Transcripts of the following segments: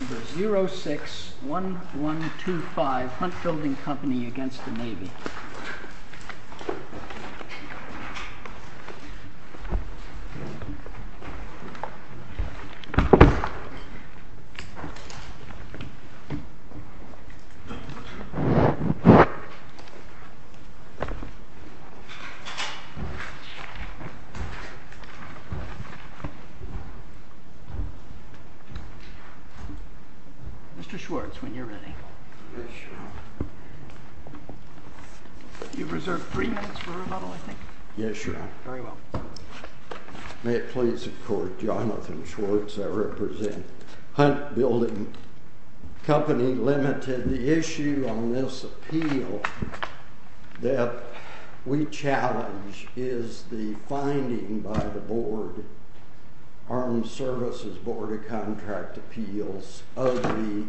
Number 06-1125 Hunt Building Company v. Navy Mr. Schwartz, when you're ready. You've reserved three minutes for rebuttal, I think. Yes, Your Honor. Very well. May it please the Court, Jonathan Schwartz, I represent Hunt Building Company Limited. The issue on this appeal that we challenge is the finding by the board, Armed Services Board of Contract Appeals of the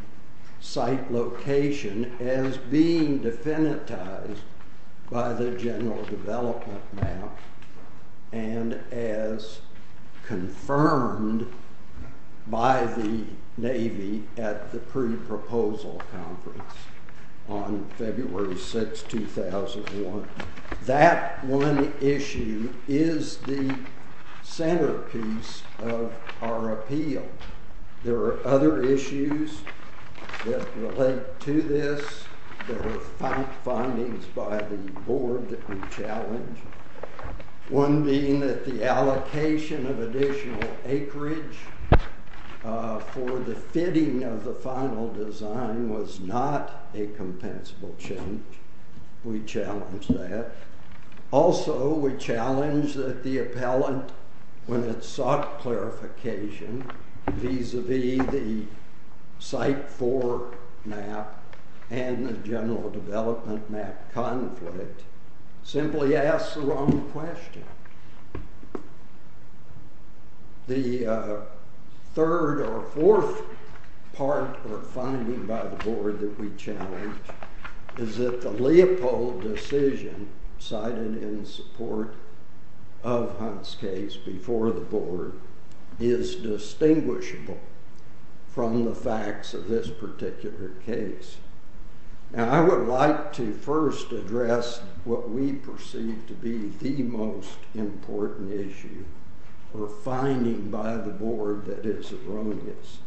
site location as being definitized by the general development map and as confirmed by the Navy at the pre-proposal conference on February 6, 2001. That one issue is the centerpiece of our appeal. There are other issues that relate to this. There are findings by the board that we challenge, one being that the allocation of additional acreage for the fitting of the final design was not a compensable change. We challenge that. Also, we challenge that the appellant, when it sought clarification vis-a-vis the site 4 map and the general development map conflict, simply asked the wrong question. The third or fourth part or finding by the board that we challenge is that the Leopold decision cited in support of Hunt's case before the board is distinguishable from the facts of this particular case. Now, I would like to first address what we perceive to be the most important issue or finding by the board that is erroneous,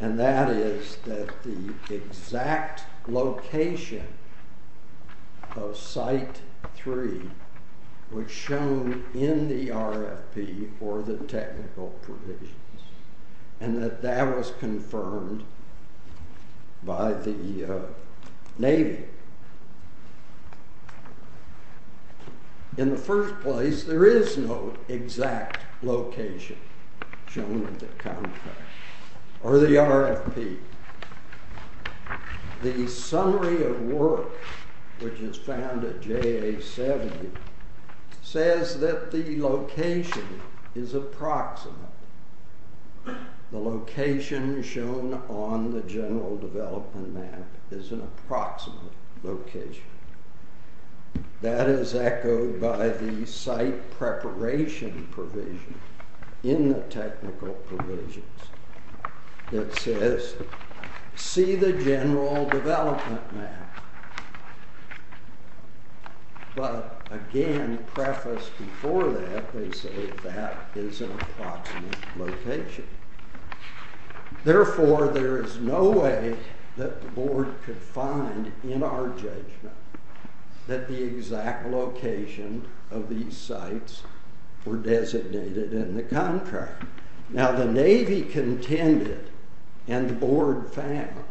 and that is that the exact location of site 3 was shown in the RFP or the technical provisions and that that was confirmed by the Navy. In the first place, there is no exact location shown in the contract or the RFP. The summary of work, which is found at JA 70, says that the location is approximate. The location shown on the general development map is an approximate location. That is echoed by the site preparation provision in the technical provisions. It says, see the general development map. But again, prefaced before that, they say that is an approximate location. Therefore, there is no way that the board could find in our judgment that the exact location of these sites were designated in the contract. Now, the Navy contended and the board found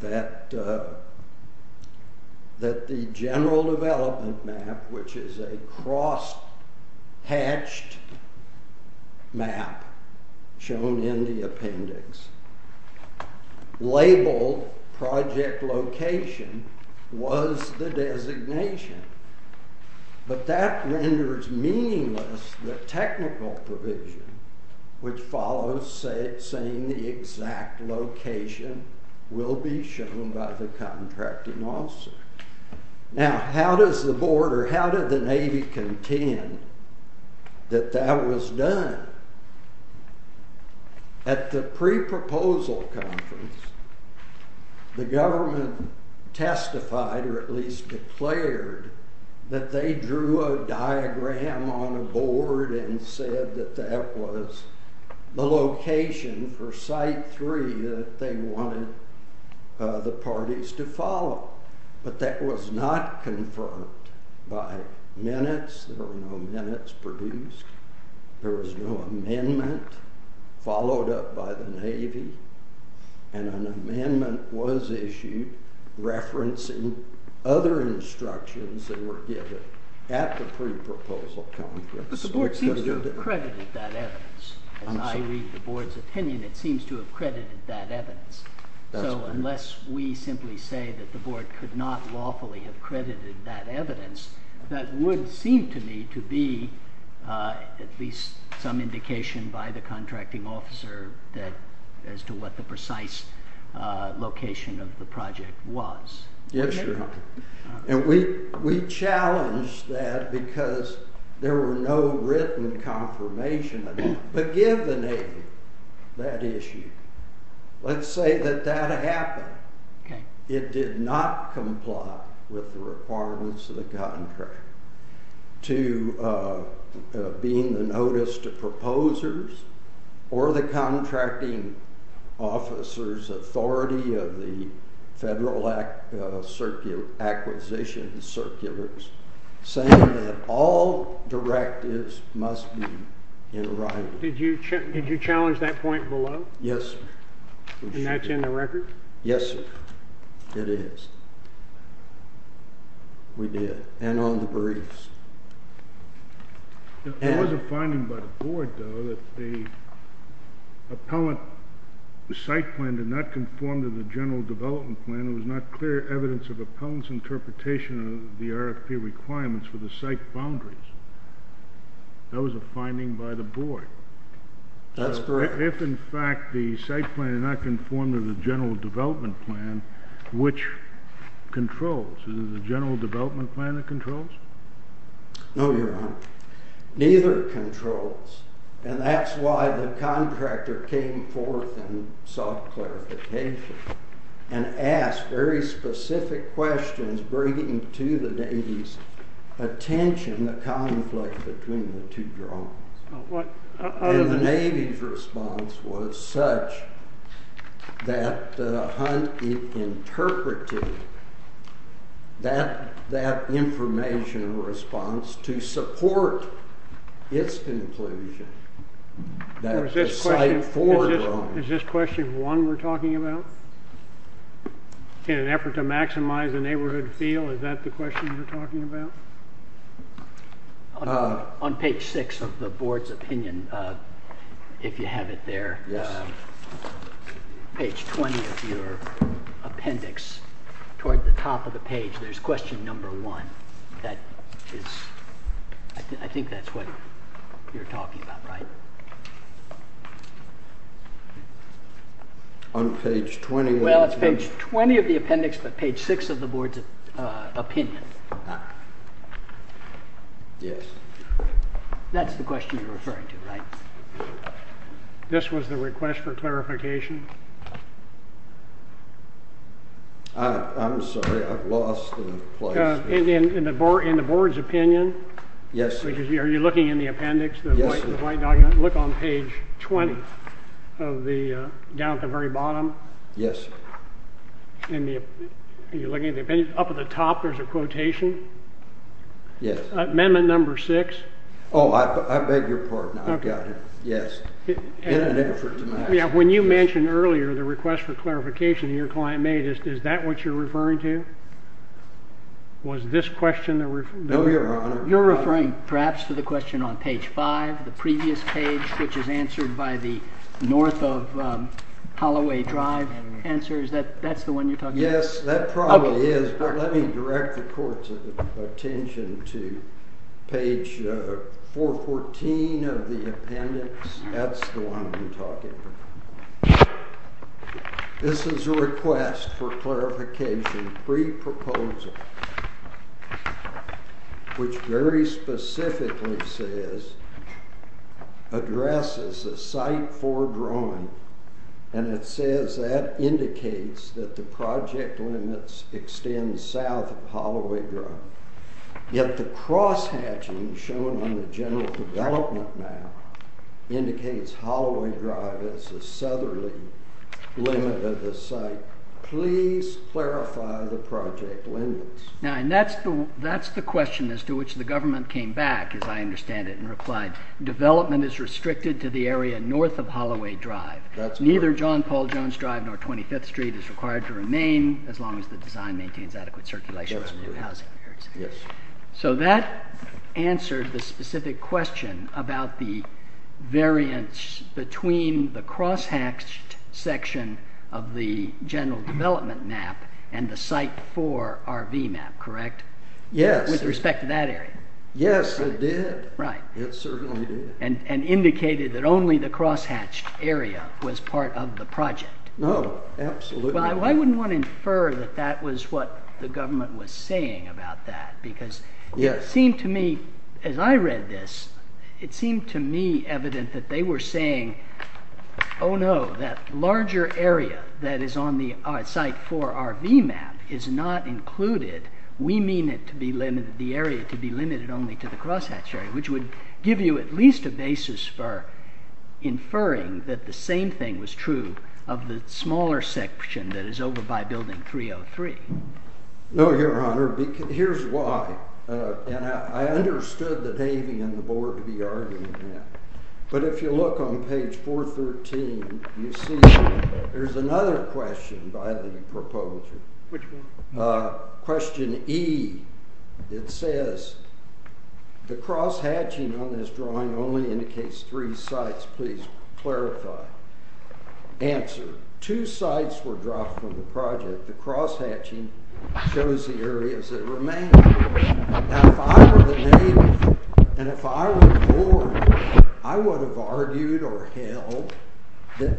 that the general development map, which is a cross-hatched map shown in the appendix, labeled project location was the designation. But that renders meaningless the technical provision, which follows saying the exact location will be shown by the contracting officer. Now, how does the board or how did the Navy contend that that was done? At the pre-proposal conference, the government testified, or at least declared, that they drew a diagram on a board and said that that was the location for Site 3 that they wanted the parties to follow. But that was not confirmed by minutes. There were no minutes produced. There was no amendment followed up by the Navy. And an amendment was issued referencing other instructions that were given at the pre-proposal conference. But the board seems to have credited that evidence. As I read the board's opinion, it seems to have credited that evidence. So unless we simply say that the board could not lawfully have credited that evidence, that would seem to me to be at least some indication by the contracting officer as to what the precise location of the project was. Yes, Your Honor. And we challenged that because there were no written confirmations. But given that issue, let's say that that happened. It did not comply with the requirements of the contract to being the notice to proposers or the contracting officer's authority of the Federal Acquisition Circulars saying that all directives must be in writing. Did you challenge that point below? Yes, sir. And that's in the record? Yes, sir. It is. We did, and on the briefs. There was a finding by the board, though, that the appellant site plan did not conform to the general development plan. It was not clear evidence of appellant's interpretation of the RFP requirements for the site boundaries. That was a finding by the board. That's correct. If, in fact, the site plan did not conform to the general development plan, which controls? Is it the general development plan that controls? No, Your Honor. Neither controls. And that's why the contractor came forth and sought clarification and asked very specific questions bringing to the Navy's attention the conflict between the two drones. And the Navy's response was such that Hunt interpreted that information in response to support its conclusion that the site for drones. Is this question one we're talking about? In an effort to maximize the neighborhood feel, is that the question you're talking about? On page six of the board's opinion, if you have it there, page 20 of your appendix toward the top of the page, there's question number one. I think that's what you're talking about, right? On page 20? Well, it's page 20 of the appendix, but page six of the board's opinion. Yes. That's the question you're referring to, right? This was the request for clarification? I'm sorry. I've lost the place. In the board's opinion? Yes. Are you looking in the appendix, the white document? Yes. Look on page 20, down at the very bottom. Yes. Are you looking at the appendix? Up at the top, there's a quotation? Yes. Amendment number six? Oh, I beg your pardon. I've got it. Yes. In an effort to maximize the neighborhood feel. When you mentioned earlier the request for clarification that your client made, is that what you're referring to? Was this question the reference? No, Your Honor. You're referring perhaps to the question on page five, the previous page, which is answered by the north of Holloway Drive answer. Is that the one you're talking about? Yes, that probably is. Let me direct the court's attention to page 414 of the appendix. That's the one I'm talking about. This is a request for clarification, pre-proposal, which very specifically says, addresses a site for drawing. It says that indicates that the project limits extend south of Holloway Drive. Yet the cross-hatching shown on the general development map indicates Holloway Drive as the southerly limit of the site. Please clarify the project limits. That's the question as to which the government came back, as I understand it, and replied, North of Holloway Drive. Neither John Paul Jones Drive nor 25th Street is required to remain as long as the design maintains adequate circulation around new housing. Yes. So that answers the specific question about the variance between the cross-hatched section of the general development map and the site for RV map, correct? Yes. With respect to that area. Yes, it did. Right. It certainly did. And indicated that only the cross-hatched area was part of the project. Oh, absolutely. Well, I wouldn't want to infer that that was what the government was saying about that, because it seemed to me, as I read this, it seemed to me evident that they were saying, oh no, that larger area that is on the site for RV map is not included. We mean it to be limited, the area to be limited only to the cross-hatched area, which would give you at least a basis for inferring that the same thing was true of the smaller section that is over by Building 303. No, Your Honor. Here's why. And I understood that Amy and the board would be arguing that. But if you look on page 413, you see there's another question by the proposer. Which one? Question E. It says, the cross-hatching on this drawing only indicates three sites. Please clarify. Answer. Two sites were dropped from the project. The cross-hatching shows the areas that remain. Now, if I were the neighbor and if I were the board, I would have argued or held that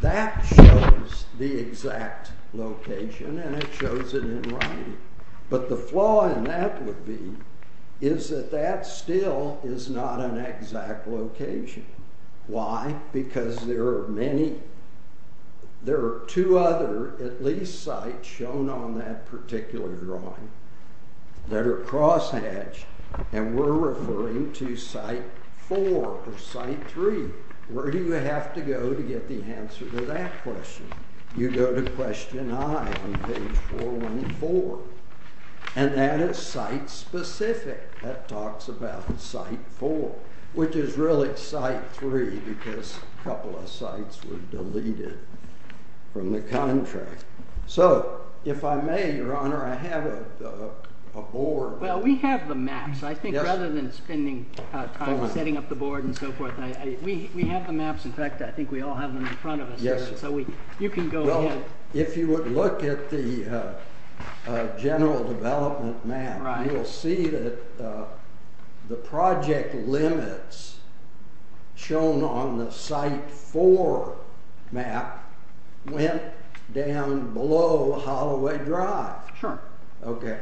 that shows the exact location and it shows it in writing. But the flaw in that would be is that that still is not an exact location. Why? Because there are two other, at least, sites shown on that particular drawing that are cross-hatched, and we're referring to Site 4 or Site 3. Where do you have to go to get the answer to that question? You go to Question I on page 414, and that is site-specific. That talks about Site 4, which is really Site 3 because a couple of sites were deleted from the contract. So if I may, Your Honor, I have a board. Well, we have the maps. I think rather than spending time setting up the board and so forth, we have the maps. In fact, I think we all have them in front of us. Yes, sir. You can go ahead. Well, if you would look at the general development map, you'll see that the project limits shown on the Site 4 map went down below Holloway Drive. Sure. Okay.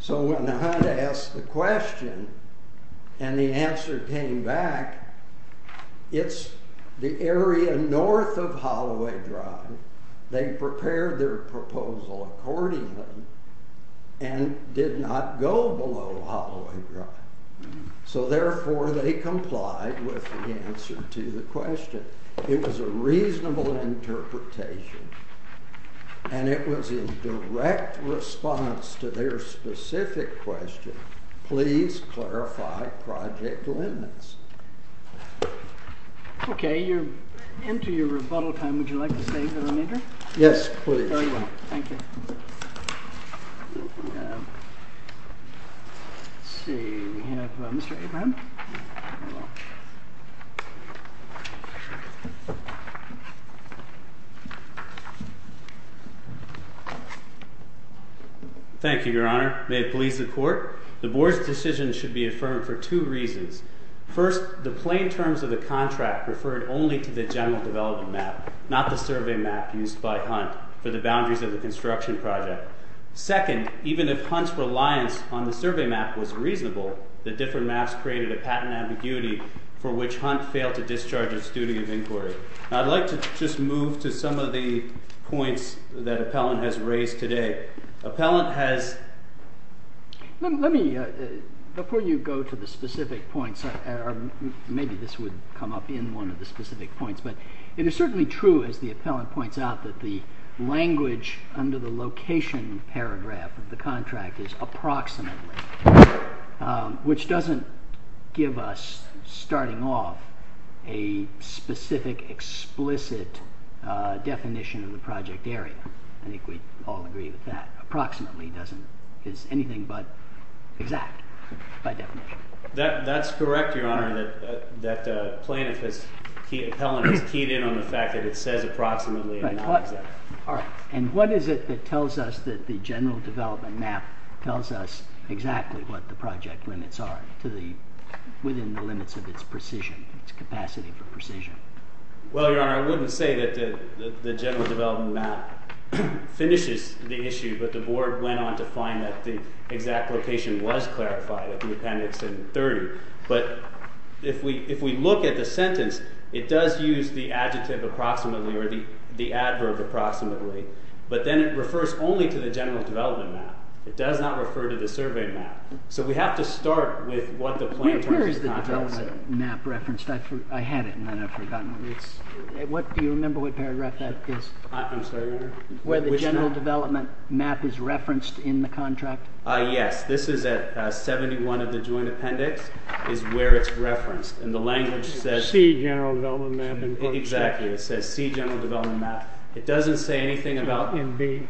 So when I asked the question and the answer came back, it's the area north of Holloway Drive. They prepared their proposal accordingly and did not go below Holloway Drive. So therefore, they complied with the answer to the question. It was a reasonable interpretation, and it was in direct response to their specific question, please clarify project limits. Okay. Enter your rebuttal time. Would you like to stay for the meeting? Yes, please. Very well. Thank you. Let's see. We have Mr. Abraham. Thank you, Your Honor. May it please the Court. The Board's decision should be affirmed for two reasons. First, the plain terms of the contract referred only to the general development map, not the survey map used by Hunt for the boundaries of the construction project. Second, even if Hunt's reliance on the survey map was reasonable, the different maps created a patent ambiguity for which Hunt failed to discharge his duty of inquiry. I'd like to just move to some of the points that Appellant has raised today. Before you go to the specific points, maybe this would come up in one of the specific points, but it is certainly true, as the Appellant points out, that the language under the location paragraph of the contract is approximately, which doesn't give us, starting off, a specific, explicit definition of the project area. I think we all agree with that. Approximately is anything but exact, by definition. That's correct, Your Honor, that Appellant has keyed in on the fact that it says approximately and not exact. All right, and what is it that tells us that the general development map tells us exactly what the project limits are within the limits of its precision, its capacity for precision? Well, Your Honor, I wouldn't say that the general development map finishes the issue, but the Board went on to find that the exact location was clarified at the appendix in 30. But if we look at the sentence, it does use the adjective approximately or the adverb approximately, but then it refers only to the general development map. It does not refer to the survey map. So we have to start with what the plan... Where is the development map referenced? I had it, and then I've forgotten. Do you remember what paragraph that is? I'm sorry, Your Honor? Where the general development map is referenced in the contract. Yes, this is at 71 of the joint appendix is where it's referenced, and the language says... C, general development map. Exactly, it says C, general development map. It doesn't say anything about... And B.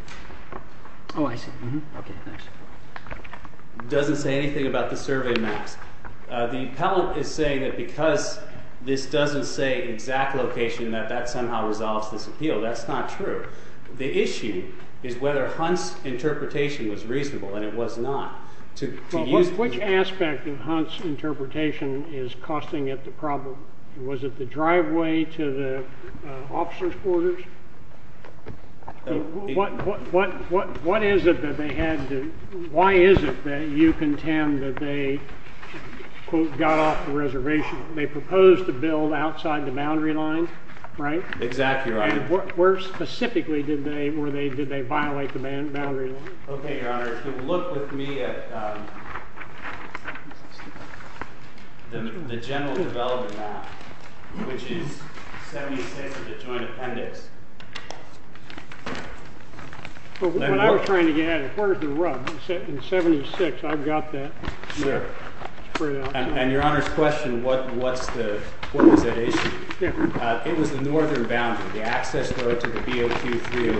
Oh, I see. Okay, thanks. It doesn't say anything about the survey maps. The Appellant is saying that because this doesn't say exact location, that that somehow resolves this appeal. That's not true. The issue is whether Hunt's interpretation was reasonable, and it was not. Which aspect of Hunt's interpretation is costing it the problem? Was it the driveway to the officer's quarters? What is it that they had to... Why is it that you contend that they quote, got off the reservation? They proposed to build outside the boundary line, right? Exactly right. Where specifically did they violate the boundary line? Okay, Your Honor, if you'll look with me at the general development map, which is 76 of the joint appendix. When I was trying to get at it, where's the rub? In 76, I've got that. And Your Honor's question, what was that issue? It was the northern boundary, the access road to the B.O.Q. 3.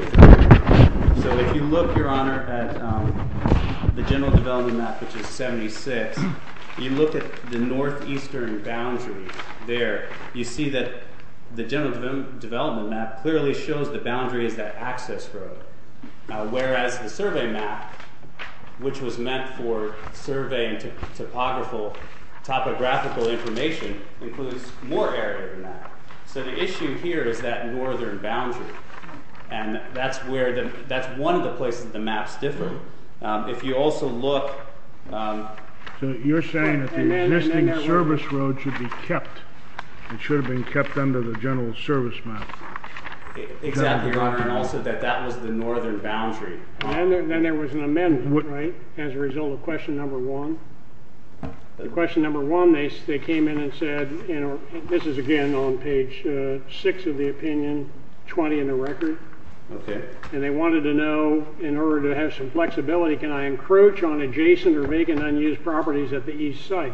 So if you look, Your Honor, at the general development map, which is 76, you look at the northeastern boundary there, you see that the general development map clearly shows the boundary is that access road. Whereas the survey map, which was meant for surveying topographical information, includes more area than that. So the issue here is that northern boundary. And that's one of the places the maps differ. If you also look... So you're saying that the existing service road should be kept. It should have been kept under the general service map. Exactly, Your Honor. And also that that was the northern boundary. Then there was an amendment, right? As a result of question number one. Question number one, they came in and said, and this is again on page 6 of the opinion, 20 in the record. And they wanted to know, in order to have some flexibility, can I encroach on adjacent or vacant unused properties at the east site?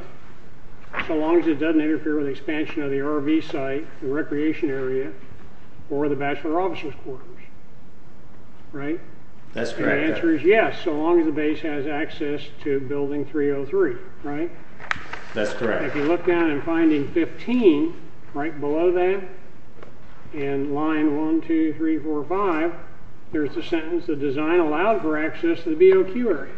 So long as it doesn't interfere with expansion of the RV site, the recreation area, or the bachelor offices quarters. Right? That's correct. And the answer is yes, so long as the base has access to building 303. Right? That's correct. If you look down in finding 15, right below that, in line 1, 2, 3, 4, 5, there's the sentence, the design allowed for access to the BOQ area.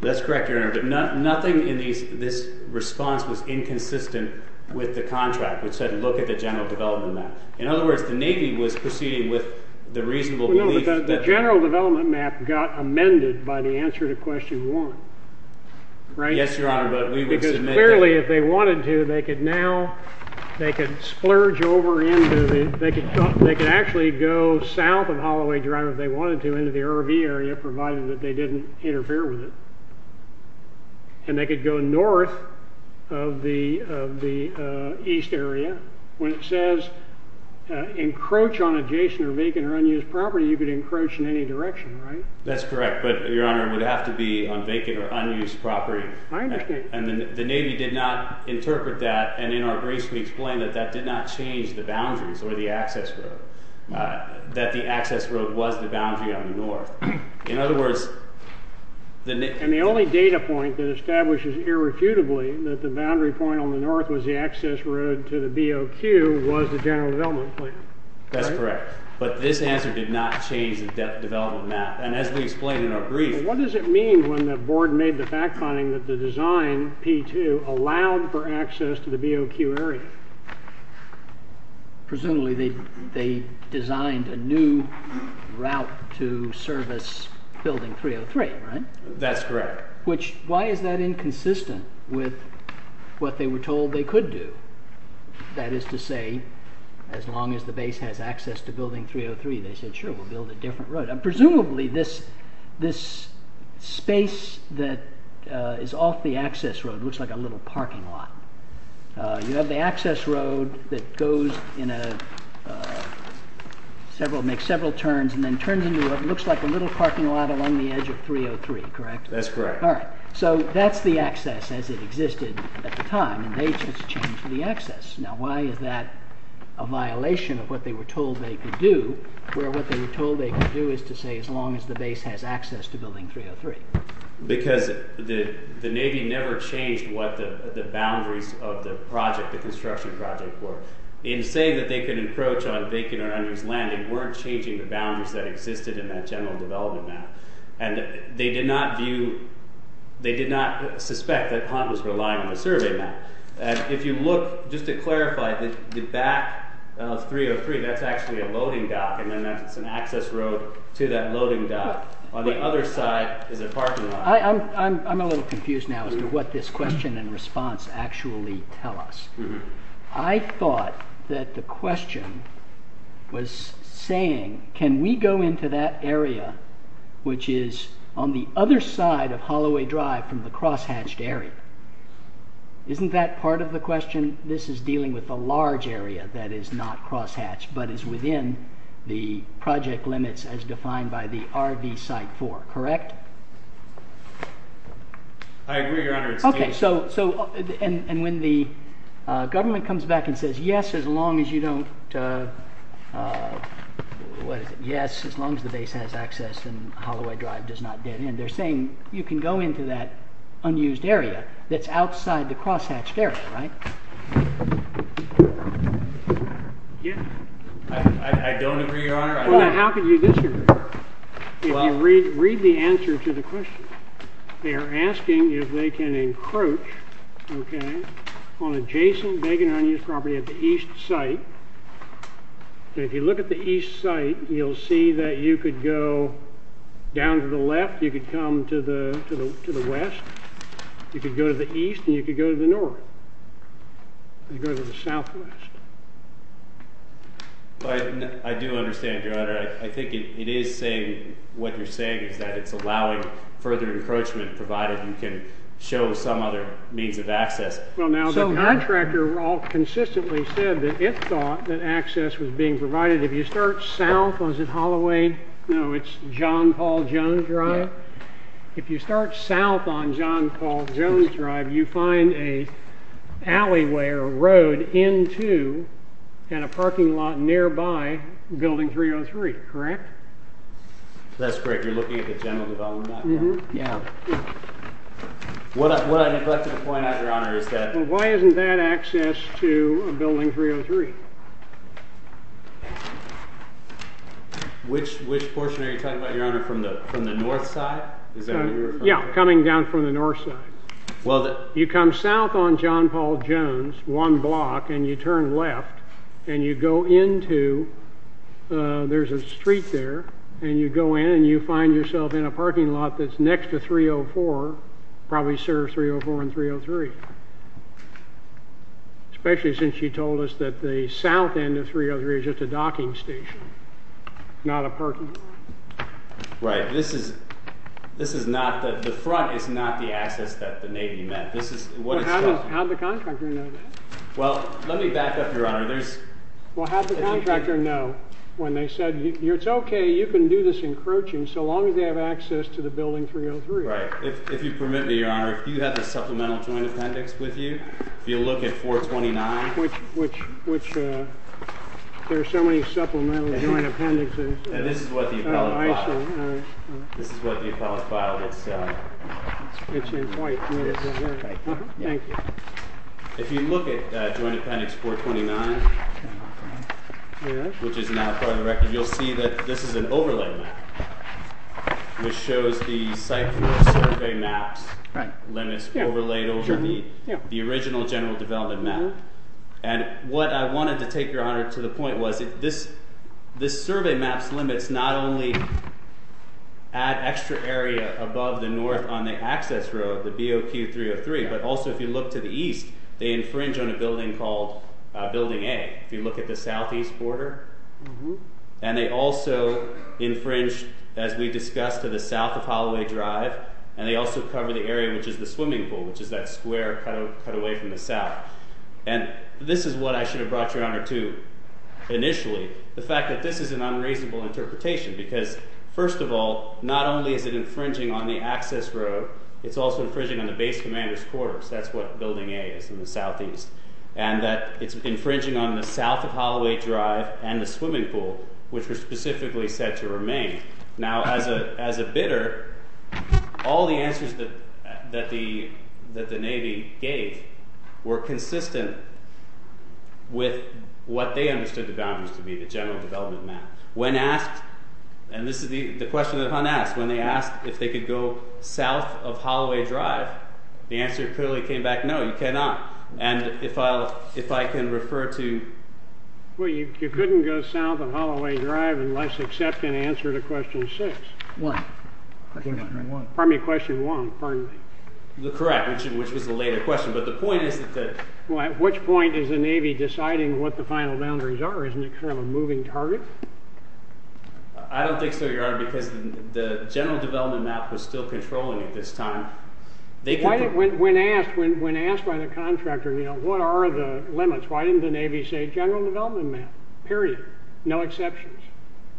That's correct, Your Honor. But nothing in this response was inconsistent with the contract, which said look at the general development map. In other words, the Navy was proceeding with the reasonable belief that... No, but the general development map got amended by the answer to question one. Right? Yes, Your Honor, but we would submit that... Because clearly, if they wanted to, they could now, they could splurge over into the... They could actually go south of Holloway Drive, if they wanted to, into the RV area, provided that they didn't interfere with it. And they could go north of the east area. When it says encroach on adjacent or vacant or unused property, you could encroach in any direction, right? That's correct, but, Your Honor, it would have to be on vacant or unused property. I understand. And the Navy did not interpret that, and in our briefs we explain that that did not change the boundaries or the access road, that the access road was the boundary on the north. In other words... And the only data point that establishes irrefutably that the boundary point on the north was the access road to the BOQ was the general development plan. That's correct. But this answer did not change the development map. And as we explain in our brief... What does it mean when the board made the fact-finding that the design, P-2, allowed for access to the BOQ area? Presumably they designed a new route to service Building 303, right? That's correct. Which, why is that inconsistent with what they were told they could do? That is to say, as long as the base has access to Building 303, they said, sure, we'll build a different road. And presumably this space that is off the access road looks like a little parking lot. You have the access road that makes several turns and then turns into what looks like a little parking lot along the edge of 303, correct? That's correct. So that's the access as it existed at the time, and they just changed the access. Now why is that a violation of what they were told they could do, where what they were told they could do is to say as long as the base has access to Building 303? Because the Navy never changed what the boundaries of the project, the construction project, were. In saying that they could encroach on Bacon or Under's land, they weren't changing the boundaries that existed in that general development map. And they did not view, they did not suspect that Hunt was relying on a survey map. And if you look, just to clarify, the back of 303, that's actually a loading dock, and then that's an access road to that loading dock. On the other side is a parking lot. I'm a little confused now as to what this question and response actually tell us. I thought that the question was saying, can we go into that area, which is on the other side of Holloway Drive from the crosshatched area? Isn't that part of the question? This is dealing with a large area that is not crosshatched, but is within the project limits as defined by the RV site 4. Correct? I agree, Your Honor. And when the government comes back and says, yes, as long as you don't, what is it, yes, as long as the base has access and Holloway Drive does not dead end, they're saying you can go into that unused area that's outside the crosshatched area, right? Yes. I don't agree, Your Honor. How can you disagree? Read the answer to the question. They're asking if they can encroach on adjacent vacant unused property at the east site. If you look at the east site, you'll see that you could go down to the left, you could come to the west, you could go to the east, and you could go to the north, and go to the southwest. But I do understand, Your Honor. I think it is saying what you're saying is that it's allowing further encroachment provided you can show some other means of access. Well, now, the contractor all consistently said that it thought that access was being provided. If you start south, was it Holloway? No, it's John Paul Jones Drive. If you start south on John Paul Jones Drive, you find an alleyway or road into and a parking lot nearby Building 303, correct? That's correct. You're looking at the general development? What I neglected to point out, Your Honor, is that... Why isn't that access to Building 303? Which portion are you talking about, Your Honor? From the north side? Yeah, coming down from the north side. You come south on John Paul Jones, one block, and you turn left, and you go into... There's a street there, and you go in, and you find yourself in a parking lot that's next to 304, probably serves 304 and 303, especially since you told us that the south end of 303 is just a docking station, not a parking lot. Right. This is not... The front is not the access that the Navy meant. How did the contractor know that? Well, let me back up, Your Honor. How did the contractor know when they said, it's okay, you can do this encroaching so long as they have access to the Building 303? If you permit me, Your Honor, if you have the supplemental joint appendix with you, if you look at 429... There are so many supplemental joint appendixes. And this is what the appellant filed. This is what the appellant filed. Thank you. If you look at Joint Appendix 429, which is now part of the record, you'll see that this is an overlay map which shows the site survey maps, limits overlaid over the original general development map. And what I wanted to take, Your Honor, to the point was this survey map's limits not only add extra area above the north on the access road, the BOP 303, but also if you look to the east, they infringe on a building called Building A. If you look at the southeast border. And they also infringe, as we discussed, to the south of Holloway Drive. And they also cover the area which is the swimming pool, which is that square cut away from the south. And this is what I should have brought, Your Honor, to initially, the fact that this is an unreasonable interpretation because, first of all, not only is it infringing on the access road, it's also infringing on the base commander's quarters. That's what Building A is in the southeast. And that it's infringing on the south of Holloway Drive and the swimming pool, which were specifically said to remain. Now, as a bidder, all the answers that the Navy gave were consistent with what they understood the boundaries to be, the general development map. When asked, and this is the question that Hunt asked, when they asked if they could go south of Holloway Drive, the answer clearly came back, no, you cannot. And if I can refer to... Well, you couldn't go south of Holloway Drive unless accepted an answer to question six. One. Pardon me, question one, pardon me. Correct, which was a later question. But the point is that the... Well, at which point is the Navy deciding what the final boundaries are? Isn't it kind of a moving target? I don't think so, Your Honor, because the general development map was still controlling at this time. When asked by the contractor, you know, what are the limits? Why didn't the Navy say general development map, period, no exceptions?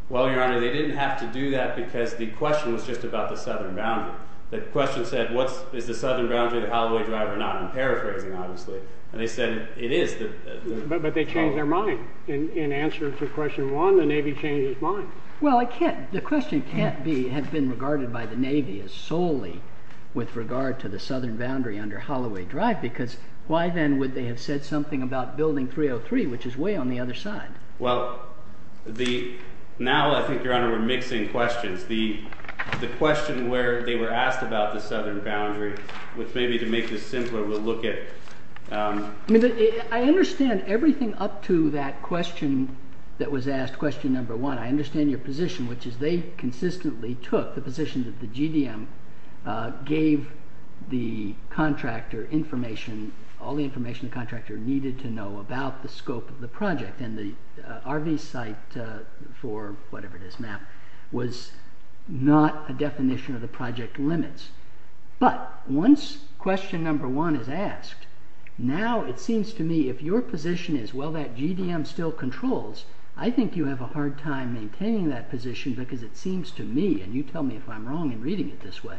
Well, Your Honor, they didn't have to do that because the question was just about the southern boundary. The question said, is the southern boundary of Holloway Drive or not? I'm paraphrasing, obviously. And they said it is the... But they changed their mind. In answer to question one, the Navy changed its mind. Well, I can't... The question can't have been regarded by the Navy as solely with regard to the southern boundary under Holloway Drive because why then would they have said something about building 303, which is way on the other side? Well, the... Now I think, Your Honor, we're mixing questions. The question where they were asked about the southern boundary, which maybe to make this simpler, we'll look at... I mean, I understand everything up to that question that was asked, question number one. I understand your position, which is they consistently took the position that the GDM gave the contractor information, all the information the contractor needed to know about the scope of the project. And the RV site for whatever it is, map, was not a definition of the project limits. But once question number one is asked, now it seems to me if your position is, well, that GDM still controls, I think you have a hard time maintaining that position because it seems to me, and you tell me if I'm wrong in reading it this way,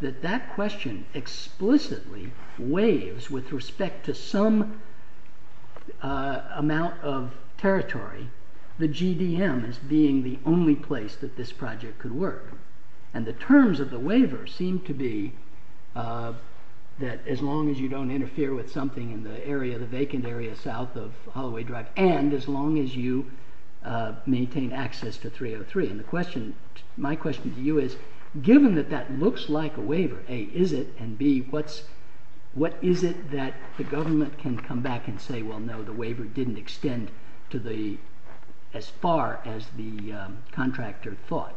that that question explicitly waives with respect to some amount of territory the GDM as being the only place that this project could work. And the terms of the waiver seem to be that as long as you don't interfere with something in the vacant area south of Holloway Drive and as long as you maintain access to 303. And my question to you is, given that that looks like a waiver, A, is it, and B, what is it that the government can come back and say, well, no, the waiver didn't extend as far as the contractor thought?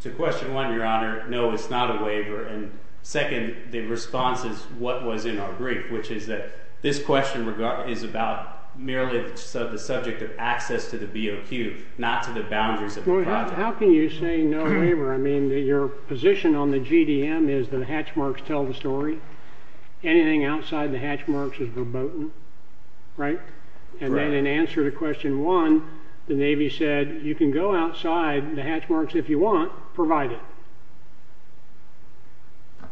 To question one, Your Honor, no, it's not a waiver. And second, the response is what was in our brief, which is that this question is about merely the subject of access to the BOQ, not to the boundaries of the project. How can you say no waiver? I mean, your position on the GDM is that the hatch marks tell the story. Anything outside the hatch marks is verboten, right? And then in answer to question one, the Navy said you can go outside the hatch marks if you want, provide it.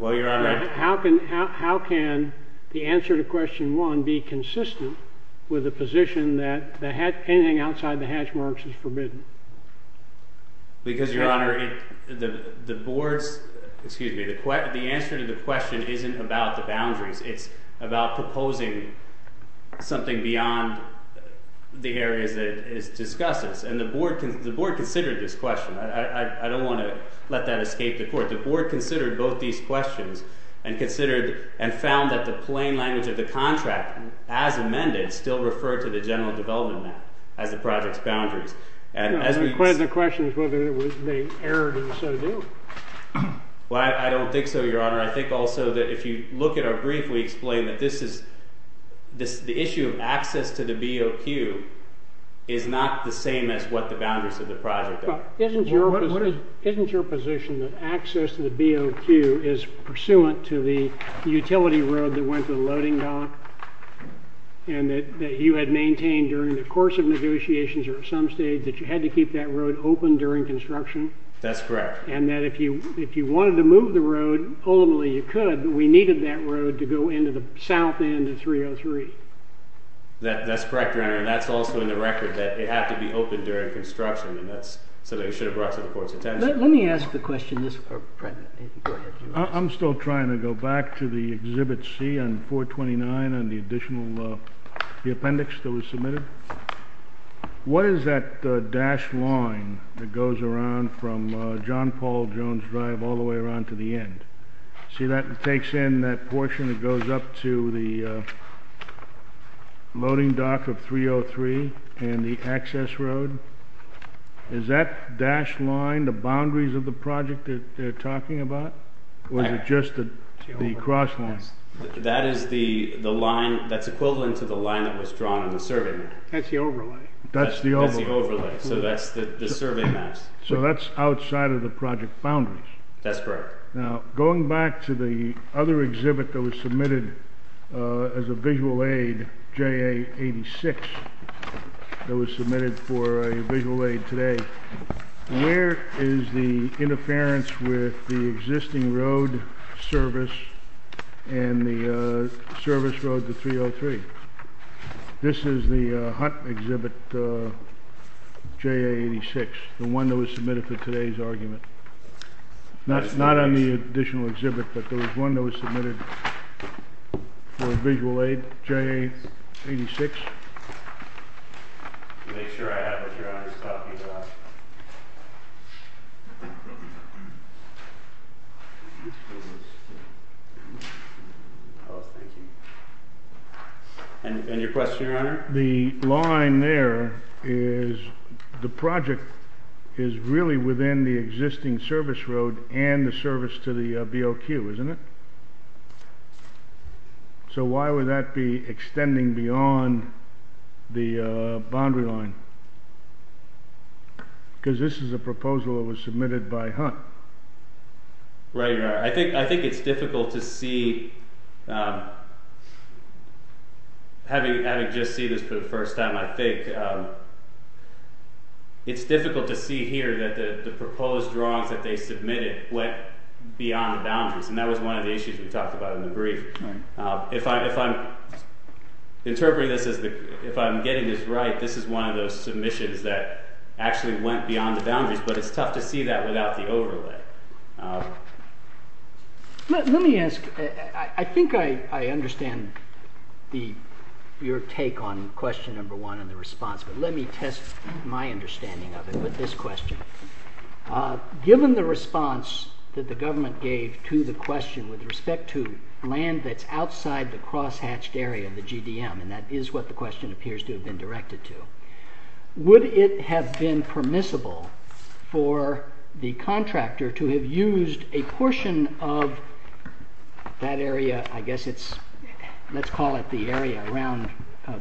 Well, Your Honor... How can the answer to question one be consistent with the position that anything outside the hatch marks is forbidden? Because, Your Honor, the board's, excuse me, the answer to the question isn't about the boundaries. It's about proposing something beyond the areas that it discusses. And the board considered this question. I don't want to let that escape the court. The board considered both these questions and considered and found that the plain language of the contract as amended still referred to the general development map as the project's boundaries. One of the questions was whether the error did so do. Well, I don't think so, Your Honor. I think also that if you look at our brief, we explain that this is... access to the BOQ is not the same as what the boundaries of the project are. Isn't your position that access to the BOQ is pursuant to the utility road that went to the loading dock and that you had maintained during the course of negotiations or at some stage that you had to keep that road open during construction? That's correct. And that if you wanted to move the road, ultimately you could, but we needed that road to go into the south end of 303. That's correct, Your Honor. And that's also in the record, that it had to be open during construction, so that it should have brought to the court's attention. Let me ask the question this part... I'm still trying to go back to the Exhibit C on 429 and the additional appendix that was submitted. What is that dashed line that goes around from John Paul Jones Drive all the way around to the end? See, that takes in that portion that goes up to the loading dock of 303 and the access road. Is that dashed line the boundaries of the project that they're talking about, or is it just the cross line? That is the line that's equivalent to the line that was drawn in the survey. That's the overlay. That's the overlay, so that's the survey maps. So that's outside of the project boundaries. That's correct. Now, going back to the other exhibit that was submitted as a visual aid, JA-86, that was submitted for a visual aid today, where is the interference with the existing road service and the service road to 303? This is the HUT exhibit, JA-86, the one that was submitted for today's argument. That's not on the additional exhibit, but there was one that was submitted for a visual aid, JA-86. And your question, Your Honor? The line there is the project is really within the existing service road and the service to the BOQ, isn't it? So why would that be extending beyond the boundary line? Because this is a proposal that was submitted by HUT. Right, Your Honor. I think it's difficult to see, having just seen this for the first time, I think it's difficult to see here that the proposed drawings that they submitted went beyond the boundaries. And that was one of the issues we talked about in the brief. If I'm getting this right, this is one of those submissions that actually went beyond the boundaries, but it's tough to see that without the overlay. Let me ask, I think I understand your take on question number one and the response, but let me test my understanding of it with this question. Given the response that the government gave to the question with respect to land that's outside the cross-hatched area of the GDM, and that is what the question appears to have been directed to, would it have been permissible for the contractor to have used a portion of that area, I guess it's, let's call it the area around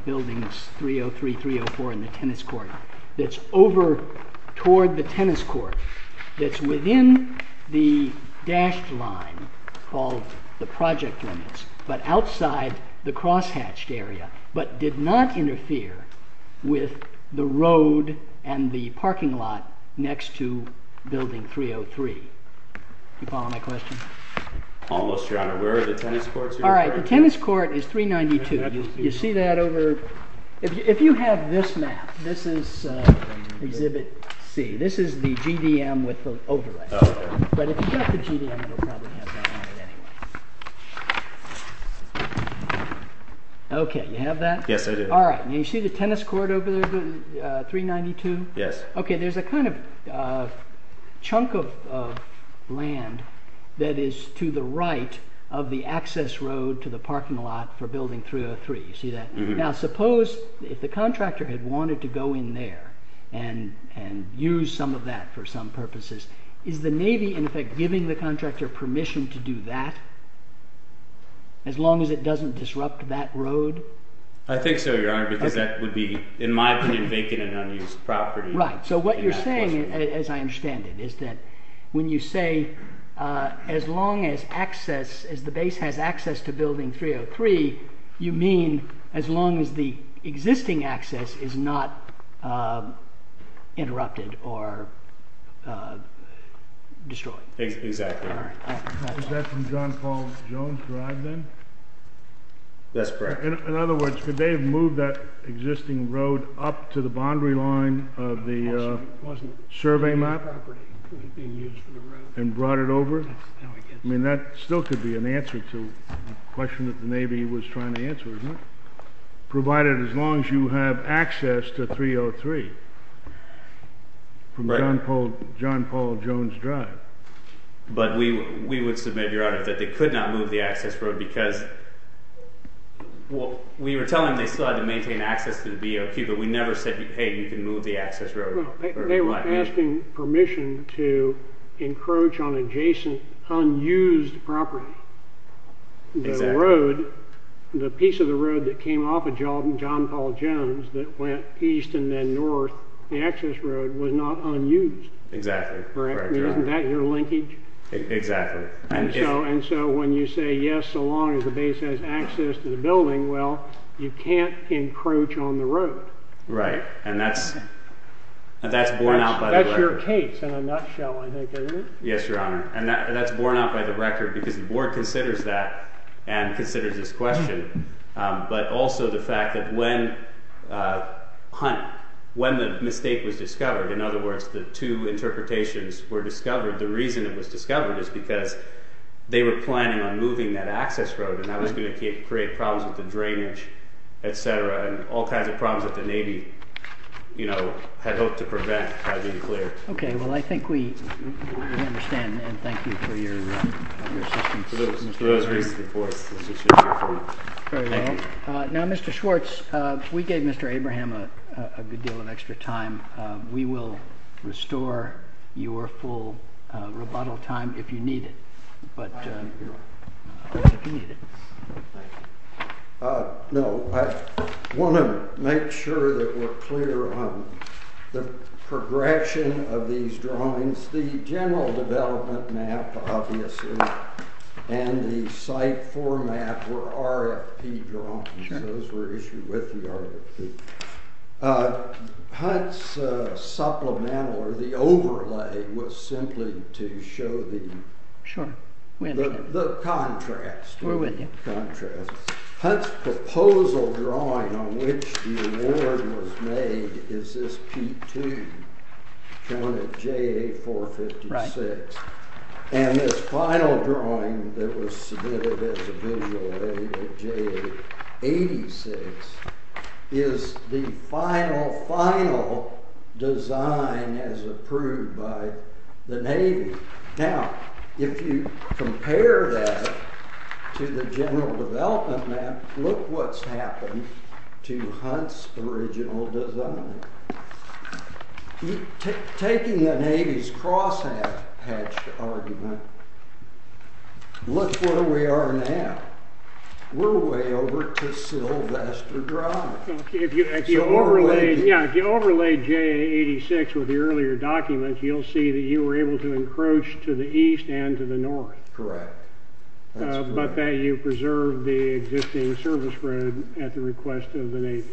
buildings 303, 304 and the tennis court, that's over toward the tennis court, that's within the dashed line called the project limits, but outside the cross-hatched area, but did not interfere with the road and the parking lot next to building 303? Do you follow my question? Almost, Your Honor. Where are the tennis courts? All right, the tennis court is 392. You see that over, if you have this map, this is exhibit C, this is the GDM with the overlay, but if you've got the GDM, it'll probably have that on it anyway. Okay, you have that? Yes, I do. All right, and you see the tennis court over there, 392? Yes. Okay, there's a kind of chunk of land that is to the right of the access road to the parking lot for building 303, you see that? Now suppose if the contractor had wanted to go in there and use some of that for some purposes, is the Navy in effect giving the contractor permission to do that as long as it doesn't disrupt that road? I think so, Your Honor, because that would be, in my opinion, vacant and unused property. Right, so what you're saying, as I understand it, is that when you say as long as the base has access to building 303, you mean as long as the existing access is not interrupted or destroyed. Exactly. Is that from John Paul Jones Drive then? That's correct. In other words, could they have moved that existing road up to the boundary line of the survey map and brought it over? I mean, that still could be an answer to a question that the Navy was trying to answer, isn't it? Provided as long as you have access to 303 from John Paul Jones Drive. But we would submit, Your Honor, that they could not move the access road because we were telling them they still had to maintain access to the BOP, but we never said, hey, you can move the access road. They were asking permission to encroach on adjacent unused property. The road, the piece of the road that came off of John Paul Jones that went east and then north, the access road was not unused. Exactly. Isn't that your linkage? Exactly. And so when you say yes, so long as the base has access to the building, well, you can't encroach on the road. Right, and that's borne out by the record. That's your case in a nutshell, I think, isn't it? Yes, Your Honor, and that's borne out by the record because the board considers that and considers this question, but also the fact that when the mistake was discovered, in other words, the two interpretations were discovered, the reason it was discovered is because they were planning on moving that access road and that was going to create problems with the drainage, et cetera, and all kinds of problems that the Navy had hoped to prevent had been cleared. Okay. Well, I think we understand, and thank you for your assistance. For those reasons, of course. Very well. Now, Mr. Schwartz, we gave Mr. Abraham a good deal of extra time. We will restore your full rebuttal time if you need it. Thank you, Your Honor. No, I want to make sure that we're clear on the progression of these drawings. The general development map, obviously, and the site format were RFP drawings. Those were issued with the RFP. Hunt's supplemental, or the overlay, was simply to show the contrast. We're with you. Hunt's proposal drawing on which the award was made is this P2, shown at JA456, and this final drawing that was submitted as a visual at JA86 is the final, final design as approved by the Navy. Now, if you compare that to the general development map, look what's happened to Hunt's original design. Taking the Navy's cross-hatched argument, look where we are now. We're way over to Sylvester Drive. If you overlay JA86 with the earlier documents, you'll see that you were able to encroach to the east and to the north. Correct. But that you preserved the existing service road at the request of the Navy.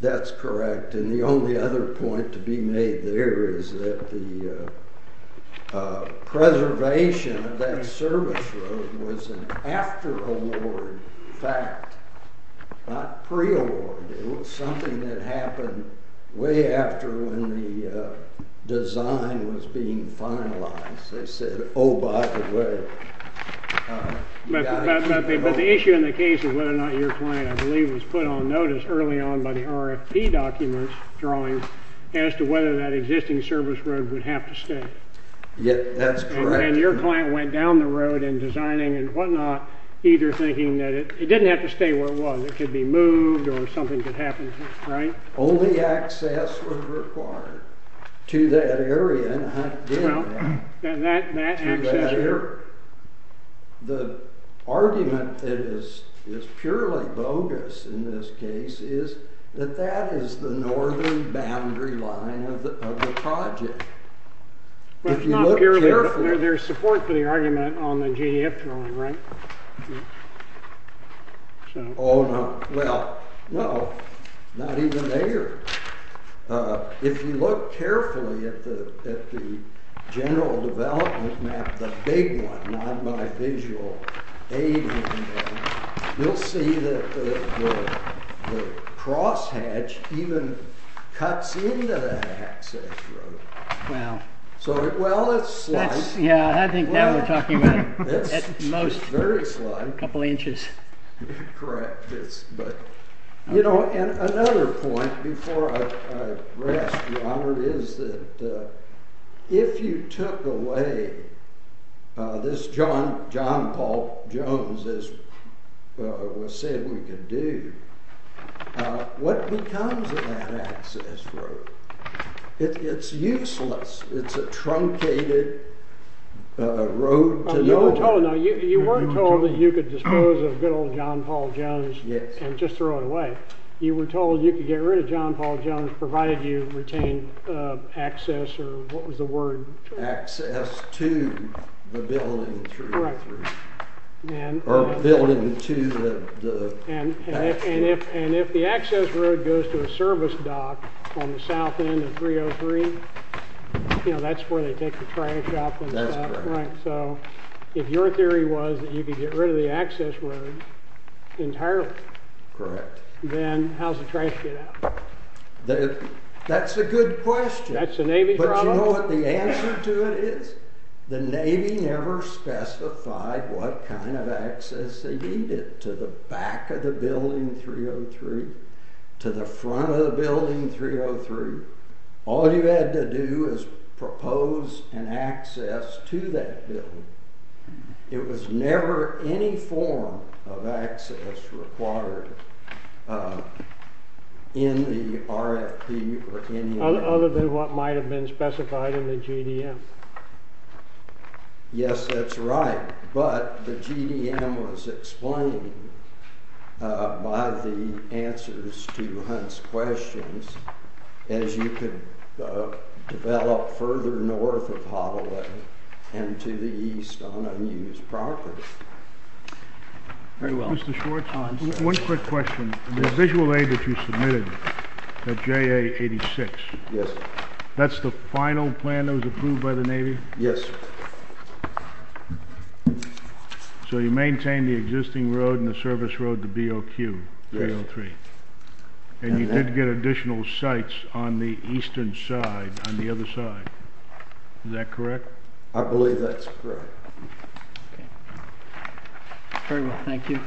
That's correct. And the only other point to be made there is that the preservation of that service road was an after-award fact, not pre-award. It was something that happened way after when the design was being finalized. They said, oh, by the way. But the issue in the case of whether or not your plan, I believe, was put on notice early on by the RFP documents drawing as to whether that existing service road would have to stay. Yeah, that's correct. And your client went down the road in designing and whatnot, either thinking that it didn't have to stay where it was. It could be moved or something could happen to it, right? Only access was required to that area. And that access there? The argument that is purely bogus in this case is that that is the northern boundary line of the project. But it's not purely bogus. There's support for the argument on the GDF drawing, right? Oh, no. Well, no, not even there. If you look carefully at the general development map, the big one, not my visual aid in them, you'll see that the crosshatch even cuts into the access road. Wow. Well, it's slight. Yeah, I think now we're talking about at most a couple inches. Correct. You know, another point before I rest, Your Honor, is that if you took away this John Paul Jones, as was said we could do, what becomes of that access road? It's useless. It's a truncated road to nowhere. Oh, no, you weren't told that you could dispose of good old John Paul Jones and just throw it away. You were told you could get rid of John Paul Jones provided you retained access or what was the word? Access to the building through. Correct. Or building to the access. And if the access road goes to a service dock on the south end of 303, you know, that's where they take the trash out and stuff. That's correct. So if your theory was that you could get rid of the access road entirely. Correct. Then how's the trash get out? That's a good question. That's a Navy problem. But you know what the answer to it is? The Navy never specified what kind of access they needed to the back of the building 303, to the front of the building 303. All you had to do was propose an access to that building. It was never any form of access required in the RFP or any other. Other than what might have been specified in the GDM. Yes, that's right. But the GDM was explained by the answers to Hunt's questions. As you could develop further north of Holloway and to the east on unused property. Very well. Mr. Schwartz, one quick question. The visual aid that you submitted at JA-86. Yes. That's the final plan that was approved by the Navy? Yes. So you maintained the existing road and the service road to BOQ, 303. And you did get additional sites on the eastern side, on the other side. Is that correct? I believe that's correct. Very well, thank you.